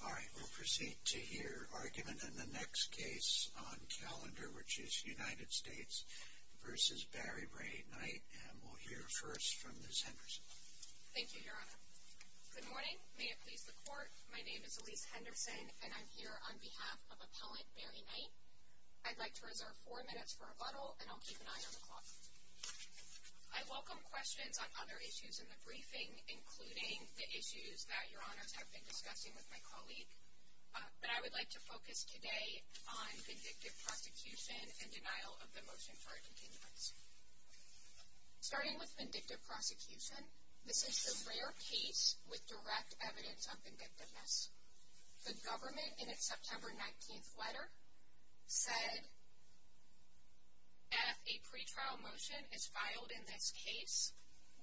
Alright, we'll proceed to hear argument in the next case on calendar, which is United States v. Barry Ray Knight, and we'll hear first from Ms. Henderson. Thank you, Your Honor. Good morning. May it please the Court, my name is Elyse Henderson, and I'm here on behalf of Appellant Barry Knight. I'd like to reserve four minutes for rebuttal, and I'll keep an eye on the clock. I welcome questions on other issues in the briefing, including the issues that Your Honors have been discussing with my colleague, but I would like to focus today on vindictive prosecution and denial of the motion for a continuance. Starting with vindictive prosecution, this is the rare case with direct evidence of vindictiveness. The government, in its September 19th letter, said, if a pretrial motion is filed in this case,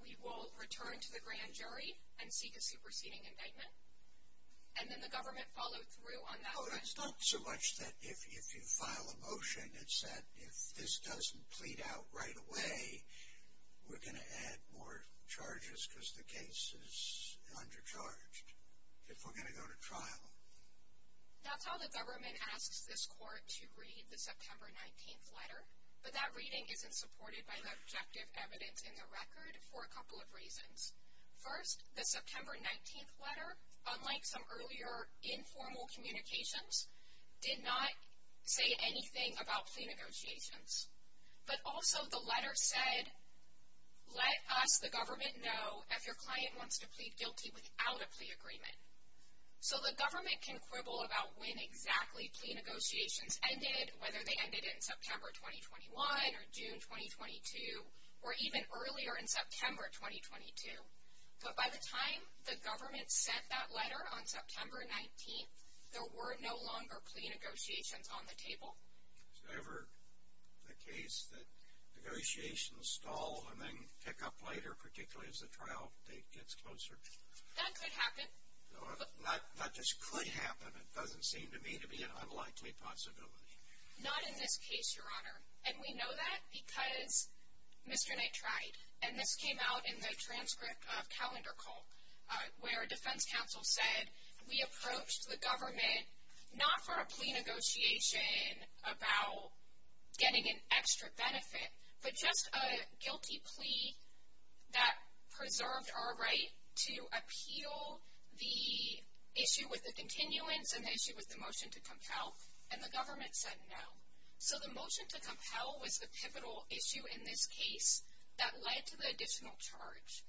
we will return to the grand jury and seek a superseding indictment, and then the government followed through on that. Well, it's not so much that if you file a motion, it's that if this doesn't plead out right away, we're going to add more charges because the case is undercharged. If we're going to go to trial. That's how the government asks this Court to read the September 19th letter, but that reading isn't supported by the objective evidence in the record for a couple of reasons. First, the September 19th letter, unlike some earlier informal communications, did not say anything about plea negotiations, but also the letter said, let us, the government, know if your client wants to plead guilty without a plea agreement. So the government can quibble about when exactly plea negotiations ended, whether they ended in September 2021 or June 2022, or even earlier in September 2022, but by the time the government sent that letter on September 19th, there were no longer plea negotiations on the table. Is it ever the case that negotiations stall and then pick up later, particularly as the trial date gets closer? That could happen. Not just could happen, it doesn't seem to me to be an unlikely possibility. Not in this case, Your Honor, and we know that because Mr. Knight tried, and this came out in the transcript of Calendar Call, where a defense counsel said, we approached the about getting an extra benefit, but just a guilty plea that preserved our right to appeal the issue with the continuance and the issue with the motion to compel, and the government said no. So the motion to compel was the pivotal issue in this case that led to the additional charge.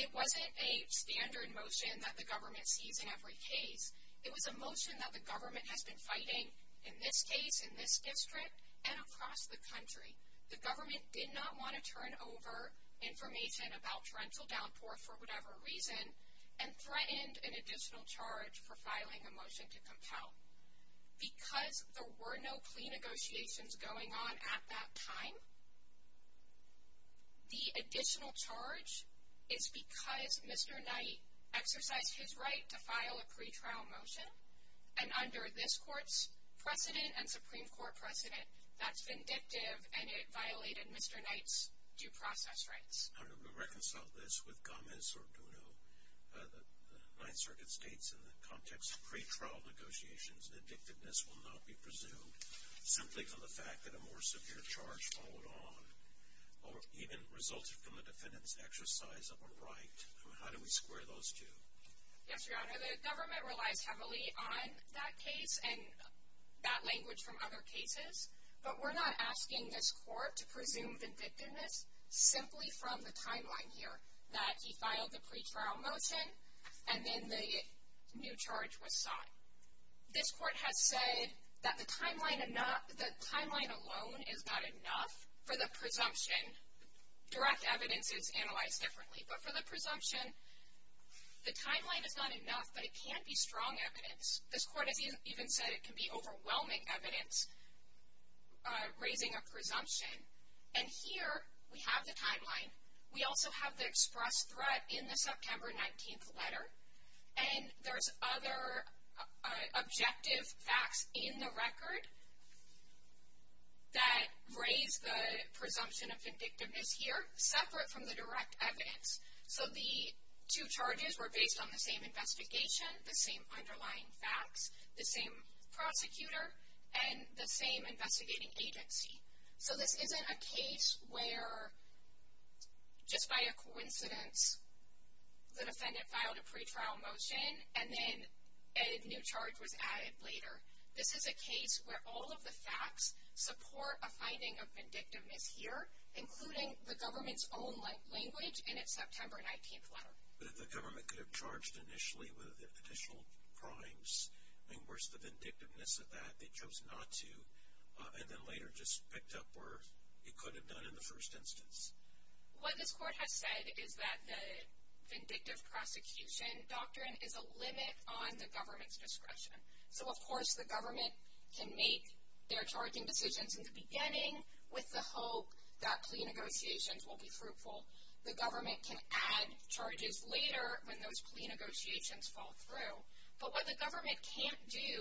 It wasn't a standard motion that the government sees in every case. It was a motion that the government has been fighting in this case, in this district, and across the country. The government did not want to turn over information about torrential downpour for whatever reason and threatened an additional charge for filing a motion to compel. Because there were no plea negotiations going on at that time, the additional charge is because Mr. Knight exercised his right to file a pretrial motion, and under this court's precedent and Supreme Court precedent, that's vindictive and it violated Mr. Knight's due process rights. I'm going to reconcile this with Gomez-Orduno. The Ninth Circuit states in the context of pretrial negotiations, that addictiveness will not be presumed simply from the fact that a more severe charge followed on or even resulted from the defendant's exercise of a right. How do we square those two? Yes, Your Honor, the government relies heavily on that case and that language from other cases, but we're not asking this court to presume vindictiveness simply from the timeline here, that he filed the pretrial motion and then the new charge was sought. This court has said that the timeline alone is not enough for the presumption direct evidence is analyzed differently. But for the presumption, the timeline is not enough, but it can be strong evidence. This court has even said it can be overwhelming evidence raising a presumption. And here we have the timeline. We also have the express threat in the September 19th letter. And there's other objective facts in the record that raise the presumption of vindictiveness here, separate from the direct evidence. So the two charges were based on the same investigation, the same underlying facts, the same prosecutor, and the same investigating agency. So this isn't a case where just by a coincidence, the defendant filed a pretrial motion and then a new charge was added later. This is a case where all of the facts support a finding of vindictiveness here, including the government's own language in its September 19th letter. But if the government could have charged initially with additional crimes, I mean, where's the vindictiveness of that? They chose not to, and then later just picked up where it could have done in the first instance. What this court has said is that the vindictive prosecution doctrine is a limit on the government's discretion. So, of course, the government can make their charging decisions in the beginning with the hope that plea negotiations will be fruitful. The government can add charges later when those plea negotiations fall through. But what the government can't do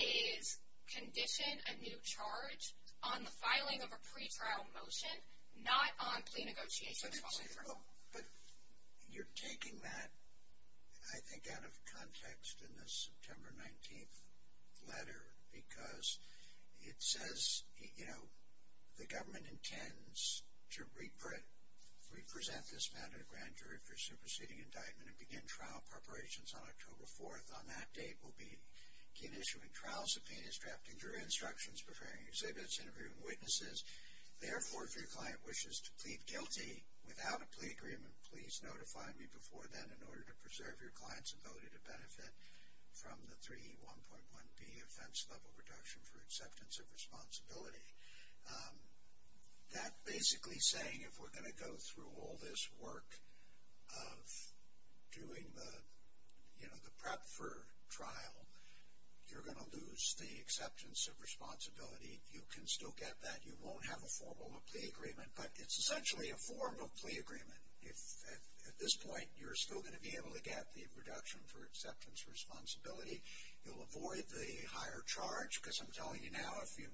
is condition a new charge on the filing of a pretrial motion, not on plea negotiations falling through. But you're taking that, I think, out of context in the September 19th letter because it says, you know, the government intends to represent this matter to the grand jury for superseding indictment and begin trial preparations on October 4th. On that date, we'll begin issuing trial subpoenas, drafting jury instructions, preparing exhibits, interviewing witnesses. Therefore, if your client wishes to plead guilty without a plea agreement, please notify me before then in order to preserve your client's ability to benefit from the 3E1.1b offense level reduction for acceptance of responsibility. That basically saying if we're going to go through all this work of doing the, you know, the prep for trial, you're going to lose the acceptance of responsibility. You can still get that. You won't have a formal plea agreement. But it's essentially a formal plea agreement. If at this point, you're still going to be able to get the reduction for acceptance of responsibility, you'll avoid the higher charge. Because I'm telling you now, if you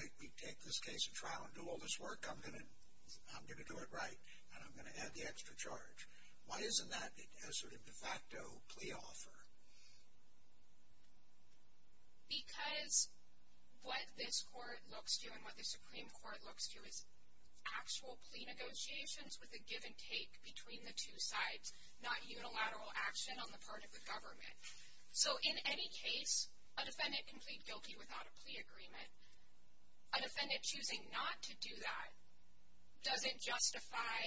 make me take this case to trial and do all this work, I'm going to do it right. And I'm going to add the extra charge. Why isn't that a sort of de facto plea offer? Because what this court looks to and what the Supreme Court looks to is actual plea negotiations with a give and take between the two sides, not unilateral action on the part of the government. So in any case, a defendant can plead guilty without a plea agreement. A defendant choosing not to do that doesn't justify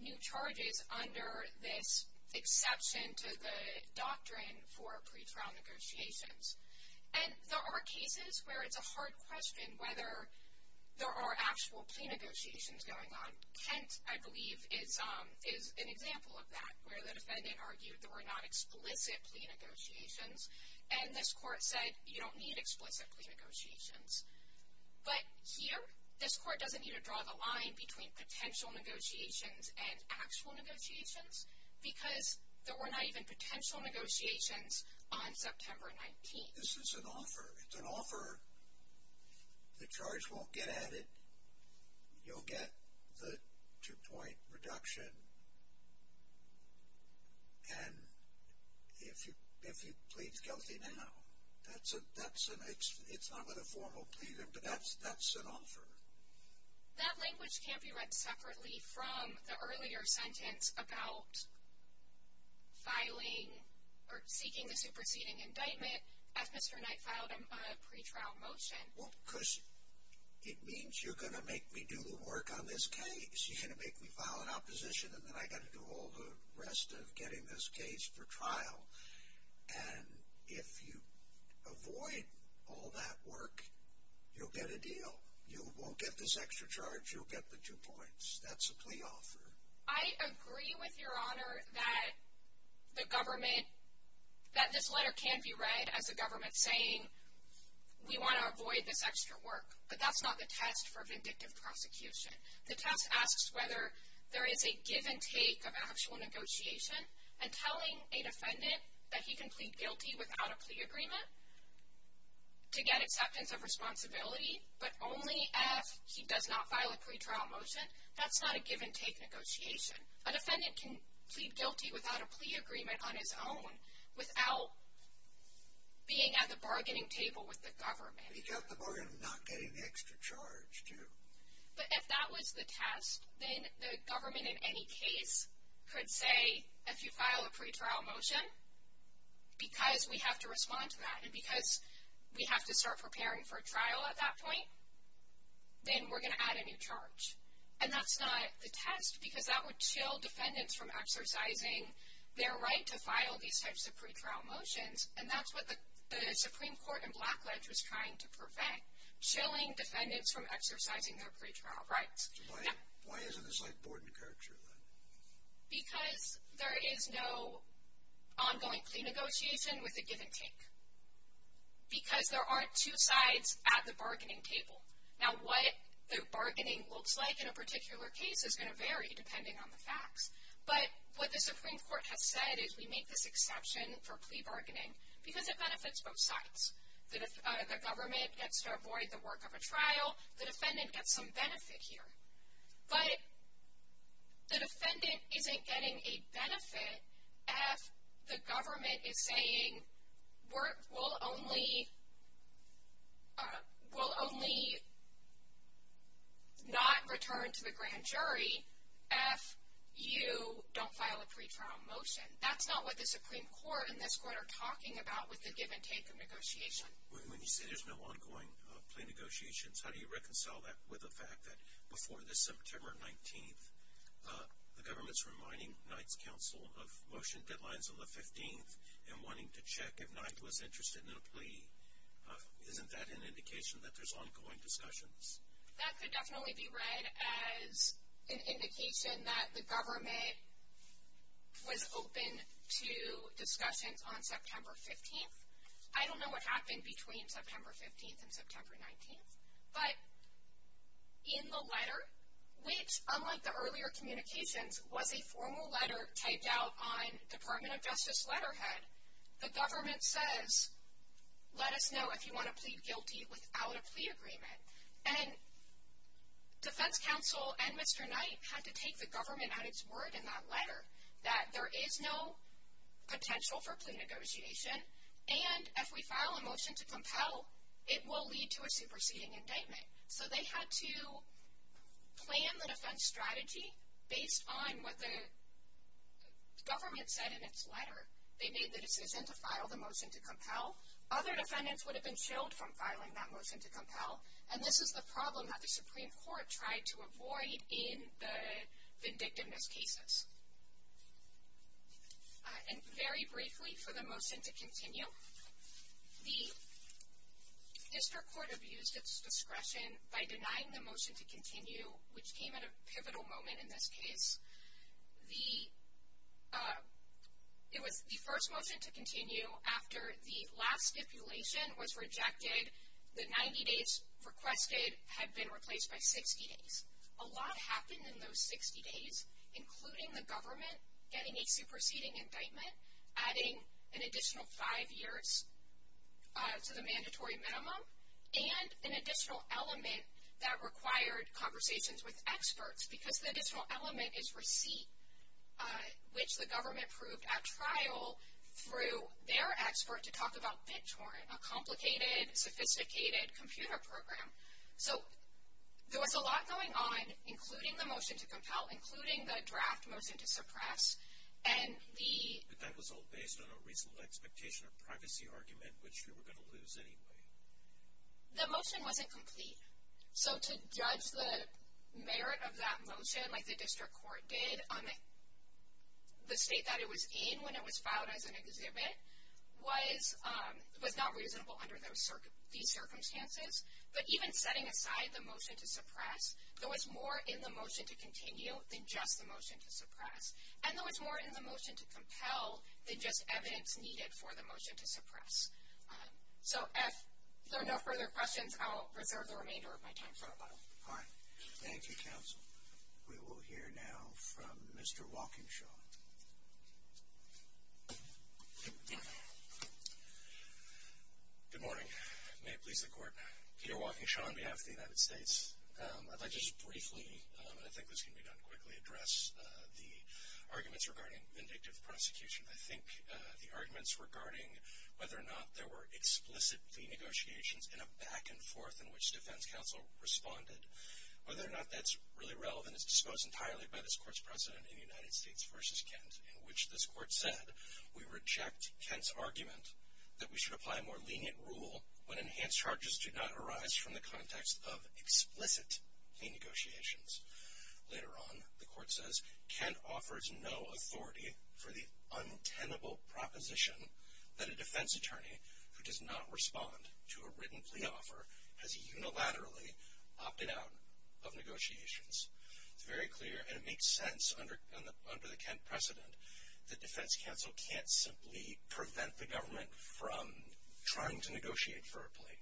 new charges under this exception to the doctrine for pretrial negotiations. And there are cases where it's a hard question whether there are actual plea negotiations going on. Kent, I believe, is an example of that, where the defendant argued there were not explicit plea negotiations. And this court said, you don't need explicit plea negotiations. But here, this court doesn't need to draw the line between potential negotiations and actual negotiations, because there were not even potential negotiations on September 19th. This is an offer. It's an offer. The charge won't get added. You'll get the two-point reduction. And if he pleads guilty now, it's not with a formal plea, but that's an offer. That language can't be read separately from the earlier sentence about filing or seeking the superseding indictment as Mr. Knight filed a pretrial motion. Well, because it means you're going to make me do the work on this case. You're going to make me file an opposition, and then I got to do all the rest of getting this case for trial. And if you avoid all that work, you'll get a deal. You won't get this extra charge. You'll get the two points. That's a plea offer. I agree with Your Honor that the government, that this letter can be read as the government saying, we want to avoid this extra work. But that's not the test for vindictive prosecution. The test asks whether there is a give and take of actual negotiation, and telling a defendant that he can plead guilty without a plea agreement, to get acceptance of responsibility, but only if he does not file a pretrial motion, that's not a give and take negotiation. A defendant can plead guilty without a plea agreement on his own, without being at the bargaining table with the government. He got the bargain of not getting the extra charge, too. But if that was the test, then the government in any case could say, if you file a pretrial motion, because we have to respond to that, and because we have to start preparing for that point, then we're going to add a new charge. And that's not the test, because that would chill defendants from exercising their right to file these types of pretrial motions. And that's what the Supreme Court in Blackledge was trying to prevent, chilling defendants from exercising their pretrial rights. So why isn't this like board and courtship then? Because there is no ongoing plea negotiation with a give and take. Because there aren't two sides at the bargaining table. Now, what the bargaining looks like in a particular case is going to vary depending on the facts. But what the Supreme Court has said is we make this exception for plea bargaining, because it benefits both sides. The government gets to avoid the work of a trial. The defendant gets some benefit here. But the defendant isn't getting a benefit if the government is saying work will only not return to the grand jury if you don't file a pretrial motion. That's not what the Supreme Court and this court are talking about with the give and take of negotiation. When you say there's no ongoing plea negotiations, how do you reconcile that with the fact that before this September 19th, the government's reminding Knight's counsel of motion deadlines on the 15th and wanting to check if Knight was interested in a plea. Isn't that an indication that there's ongoing discussions? That could definitely be read as an indication that the government was open to discussions on September 15th. I don't know what happened between September 15th and September 19th. But in the letter, which unlike the earlier communications, was a formal letter typed out on Department of Justice letterhead, the government says, let us know if you want to plead guilty without a plea agreement. And defense counsel and Mr. Knight had to take the government at its word in that letter that there is no potential for plea negotiation, and if we file a motion to compel, it will lead to a superseding indictment. So they had to plan the defense strategy based on what the government said in its letter. They made the decision to file the motion to compel. Other defendants would have been shielded from filing that motion to compel. And this is the problem that the Supreme Court tried to avoid in the vindictiveness cases. And very briefly, for the motion to continue, the district court abused its discretion by denying the motion to continue, which came at a pivotal moment in this case. It was the first motion to continue after the last stipulation was rejected, the 90 days requested had been replaced by 60 days. A lot happened in those 60 days, including the government getting a superseding indictment, adding an additional five years to the mandatory minimum, and an additional element that required conversations with experts, because the additional element is receipt, which the government proved at trial through their expert to talk about BITORN, a complicated, sophisticated computer program. So there was a lot going on, including the motion to compel, including the draft motion to suppress. And the... But that was all based on a reasonable expectation of privacy argument, which you were going to lose anyway. The motion wasn't complete. So to judge the merit of that motion like the district court did on the state that it was in when it was filed as an exhibit was not reasonable under these circumstances. But even setting aside the motion to suppress, there was more in the motion to continue than just the motion to suppress. And there was more in the motion to compel than just evidence needed for the motion to suppress. So if there are no further questions, I'll reserve the remainder of my time for rebuttal. All right. Thank you, counsel. We will hear now from Mr. Walkinshaw. Good morning. May it please the court. Peter Walkinshaw on behalf of the United States. I'd like to just briefly, and I think this can be done quickly, address the arguments regarding vindictive prosecution. I think the arguments regarding whether or not there were explicit plea negotiations in a back and forth in which defense counsel responded, whether or not that's really relevant is exposed entirely by this court's precedent in the United States versus Kent, in which this court said, we reject Kent's argument that we should apply a more lenient rule when enhanced charges do not arise from the context of explicit plea negotiations. Later on, the court says, Kent offers no authority for the untenable proposition that a defense attorney who does not respond to a written plea offer has unilaterally opted out of negotiations. It's very clear, and it makes sense under the Kent precedent, that defense counsel can't simply prevent the government from trying to negotiate for a plea.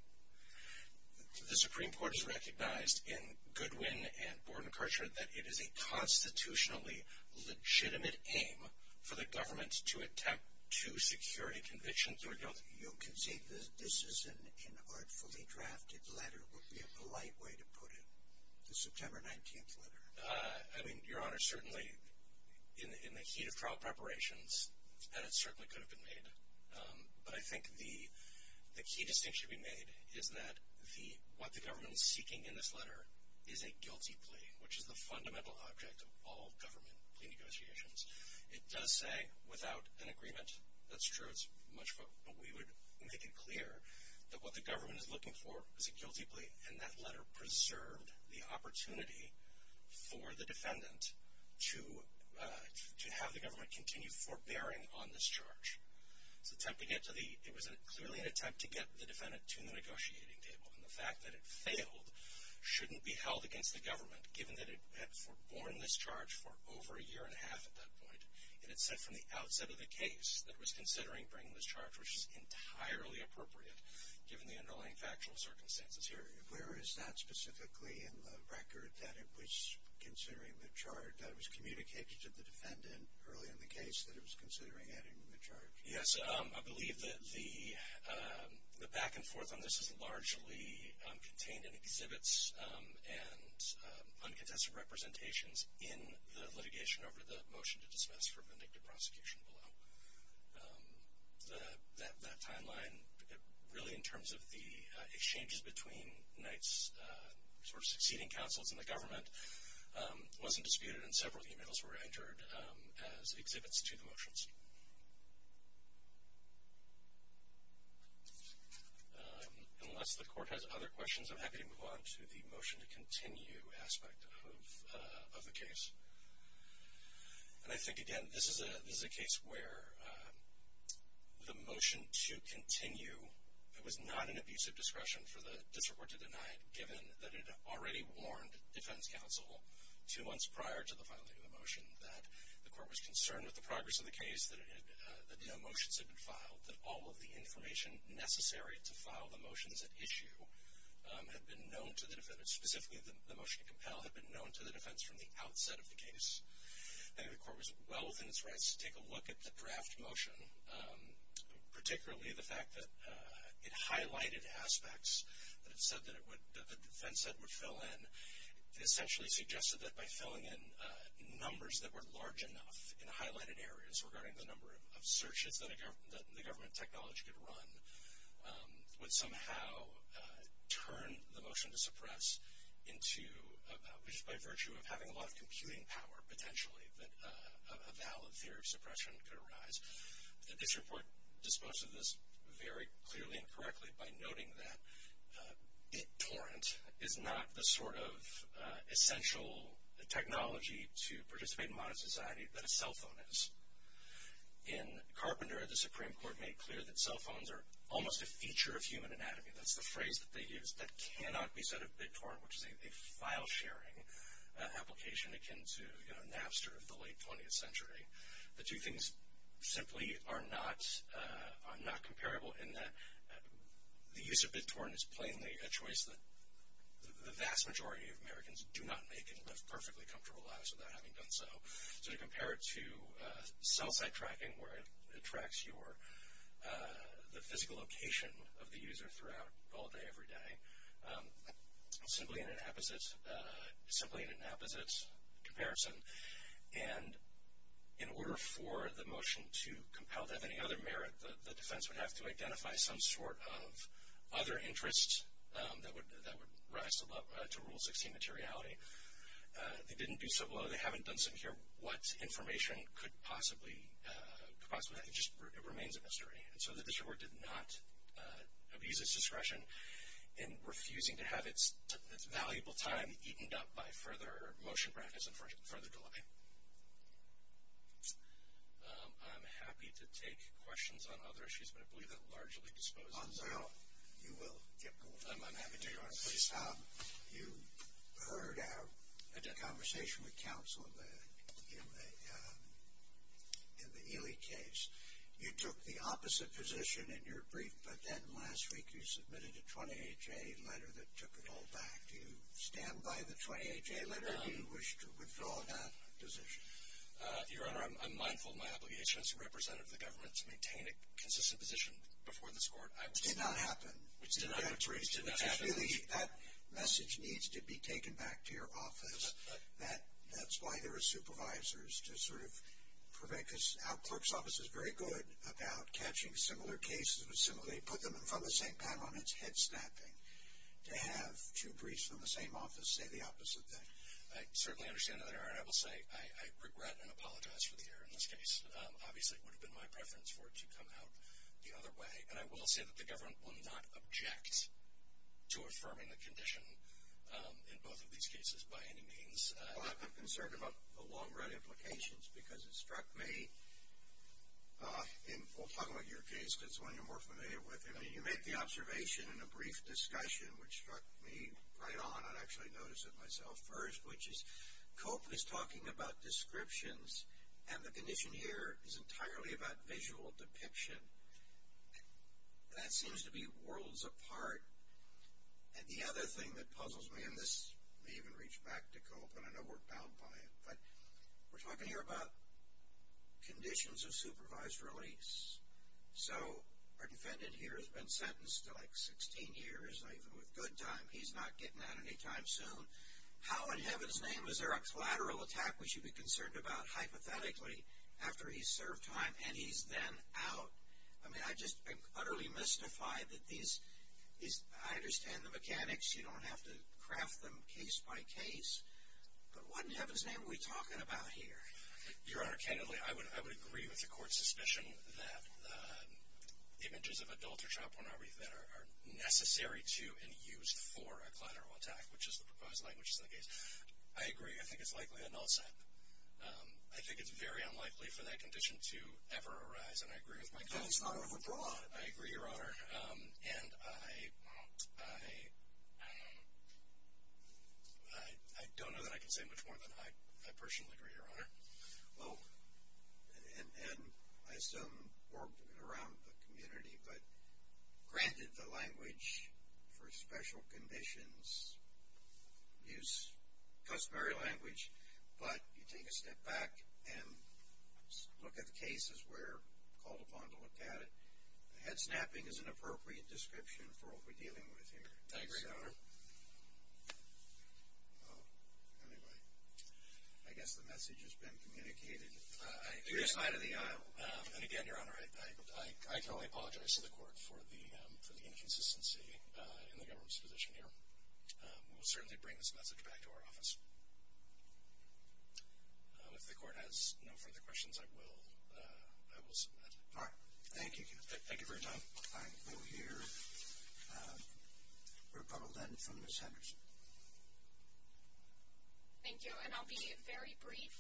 The Supreme Court has recognized in Goodwin and Borden Karcher that it is a constitutionally legitimate aim for the government to attempt to security conviction through a guilty plea. You can say this is an inartfully drafted letter would be a polite way to put it. The September 19th letter. Your Honor, certainly in the heat of trial preparations, and it certainly could have been made, but I think the key distinction to be made is that what the government is seeking in this letter is a guilty plea, which is the fundamental object of all government plea negotiations. It does say without an agreement. That's true. It's much more, but we would make it clear that what the government is looking for is a guilty plea, and that letter preserved the opportunity for the defendant to have the government continue forbearing on this charge. It was clearly an attempt to get the defendant to the negotiating table, and the fact that it failed shouldn't be held against the government, given that it had foreborne this charge for over a year and a half at that point, and it said from the outset of the case that it was considering bringing this charge, which is entirely appropriate given the underlying factual circumstances here. Where is that specifically in the record, that it was considering the charge? That it was communicated to the defendant early in the case that it was considering adding the charge? Yes. I believe that the back and forth on this is largely contained in exhibits and uncontested representations in the litigation over the motion to dismiss for vindictive prosecution below. So that timeline, really in terms of the exchanges between Knight's sort of succeeding counsels and the government, wasn't disputed, and several emails were entered as exhibits to the motions. Unless the court has other questions, I'm happy to move on to the motion to continue aspect of the case. And I think, again, this is a case where the motion to continue was not an abusive discretion for the district court to deny, given that it already warned defense counsel two months prior to the filing of the motion that the court was concerned with the progress of the case, that no motions had been filed, that all of the information necessary to file the motions at issue had been known to the defendant. Specifically, the motion to compel had been known to the defense from the outset of the case, and the court was well within its rights to take a look at the draft motion, particularly the fact that it highlighted aspects that it said that the defense said would fill in. It essentially suggested that by filling in numbers that were large enough in highlighted areas regarding the number of searches that the government technology could run, would somehow turn the motion to suppress into, which is by virtue of having a lot of computing power, potentially, that a valid theory of suppression could arise. The district court disposed of this very clearly and correctly by noting that torrent is not the sort of essential technology to participate in modern society that a cell phone is. In Carpenter, the Supreme Court made clear that cell phones are almost a feature of human anatomy, that's the phrase that they used, that cannot be said of BitTorrent, which is a file sharing application akin to Napster of the late 20th century. The two things simply are not comparable in that the use of BitTorrent is plainly a choice that the vast majority of Americans do not make and live perfectly comfortable lives without having done so. So to compare it to cell site tracking, where it tracks the physical location of the user throughout all day, every day, simply an inapposite comparison. And in order for the motion to compel to have any other merit, the defense would have to identify some sort of other interest that would rise to Rule 16 materiality. They didn't do so, although they haven't done so here, what information could possibly have, it just remains a mystery. And so the district court did not abuse its discretion in refusing to have its valuable time eaten up by further motion practice and further delay. I'm happy to take questions on other issues, but I believe that largely disposed of. You will. I'm happy to, Your Honor. Please. You heard a conversation with counsel in the Ely case. You took the opposite position in your brief, but then last week you submitted a 28-J letter that took it all back. Do you stand by the 28-J letter and wish to withdraw that position? Your Honor, I'm mindful of my obligation as a representative of the government to maintain a consistent position before this court. It did not happen. That message needs to be taken back to your office. That's why there are supervisors to sort of prevent, because our clerk's office is very good about catching similar cases and put them in front of the same panel, and it's head-snapping to have two briefs from the same office say the opposite thing. I certainly understand, Your Honor, and I will say I regret and apologize for the error in this case. Obviously, it would have been my preference for it to come out the other way. And I will say that the government will not object to affirming the condition in both of these cases by any means. Well, I'm concerned about the long-run implications, because it struck me, and we'll talk about your case, because it's one you're more familiar with. I mean, you made the observation in a brief discussion, which struck me right on. I actually noticed it myself first, which is, Cope is talking about descriptions, and the condition here is entirely about visual depiction. That seems to be worlds apart. And the other thing that puzzles me, and this may even reach back to Cope, and I know we're bound by it, but we're talking here about conditions of supervised release. So, our defendant here has been sentenced to like 16 years, even with good time. He's not getting out any time soon. How in heaven's name is there a collateral attack we should be concerned about, hypothetically, after he's served time and he's then out? I mean, I'm just utterly mystified that these, I understand the mechanics. You don't have to craft them case by case. But what in heaven's name are we talking about here? Your Honor, candidly, I would agree with the Court's suspicion that images of adult or child pornography that are necessary to and used for a collateral attack, which is the proposed language of the case. I agree. I think it's likely a null set. I think it's very unlikely for that condition to ever arise. And I agree with my client. That is not overbroad. I agree, Your Honor. And I don't know that I can say much more than I personally agree, Your Honor. Well, and I assume worked around the community, but granted the language for special conditions is used customary language. But you take a step back and look at the case as we're called upon to look at it. The head snapping is an appropriate description for what we're dealing with here. I agree, Your Honor. Anyway, I guess the message has been communicated. I think we're out of the aisle. And again, Your Honor, I can only apologize to the Court for the inconsistency in the government's position here. We'll certainly bring this message back to our office. If the Court has no further questions, I will submit. All right. Thank you. Thank you very much. I will hear a rebuttal then from Ms. Henderson. Thank you. And I'll be very brief.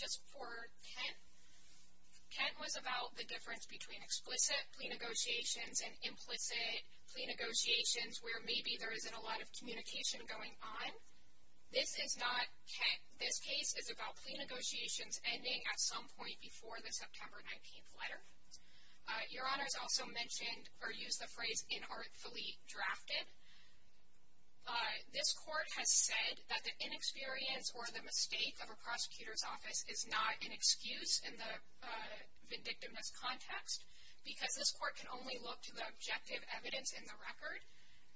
Just for Kent, Kent was about the difference between explicit plea negotiations and implicit plea negotiations where maybe there isn't a lot of communication going on. This is not Kent. This case is about plea negotiations ending at some point before the September 19th letter. Your Honor has also mentioned or used the phrase inartfully drafted. This Court has said that the inexperience or the mistake of a prosecutor's office is not an excuse in the vindictiveness context because this Court can only look to the objective evidence in the record.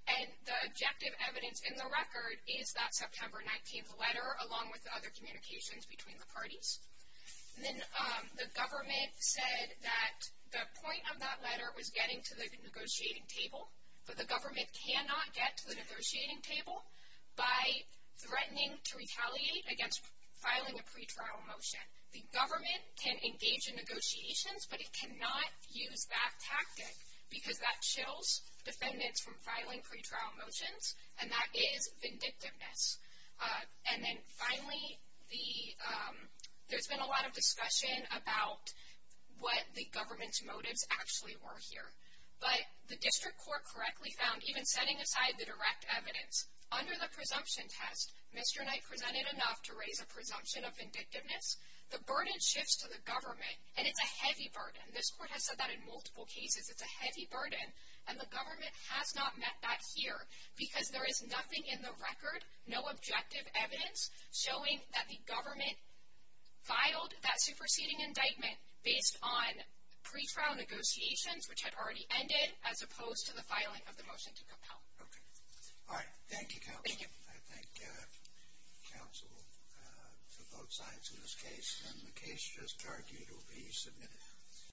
And the objective evidence in the record is that September 19th letter along with other communications between the parties. And then the government said that the point of that letter was getting to the negotiating table, but the government cannot get to the negotiating table by threatening to retaliate against filing a pretrial motion. The government can engage in negotiations, but it cannot use that tactic because that defendants from filing pretrial motions, and that is vindictiveness. And then finally, there's been a lot of discussion about what the government's motives actually were here. But the District Court correctly found, even setting aside the direct evidence, under the presumption test, Mr. Knight presented enough to raise a presumption of vindictiveness. The burden shifts to the government, and it's a heavy burden. This Court has said that in multiple cases. It's a heavy burden, and the government has not met that here because there is nothing in the record, no objective evidence showing that the government filed that superseding indictment based on pretrial negotiations, which had already ended, as opposed to the filing of the motion to compel. Okay. All right. Thank you, Counsel. I thank Counsel for both sides of this case, and the case just argued will be submitted.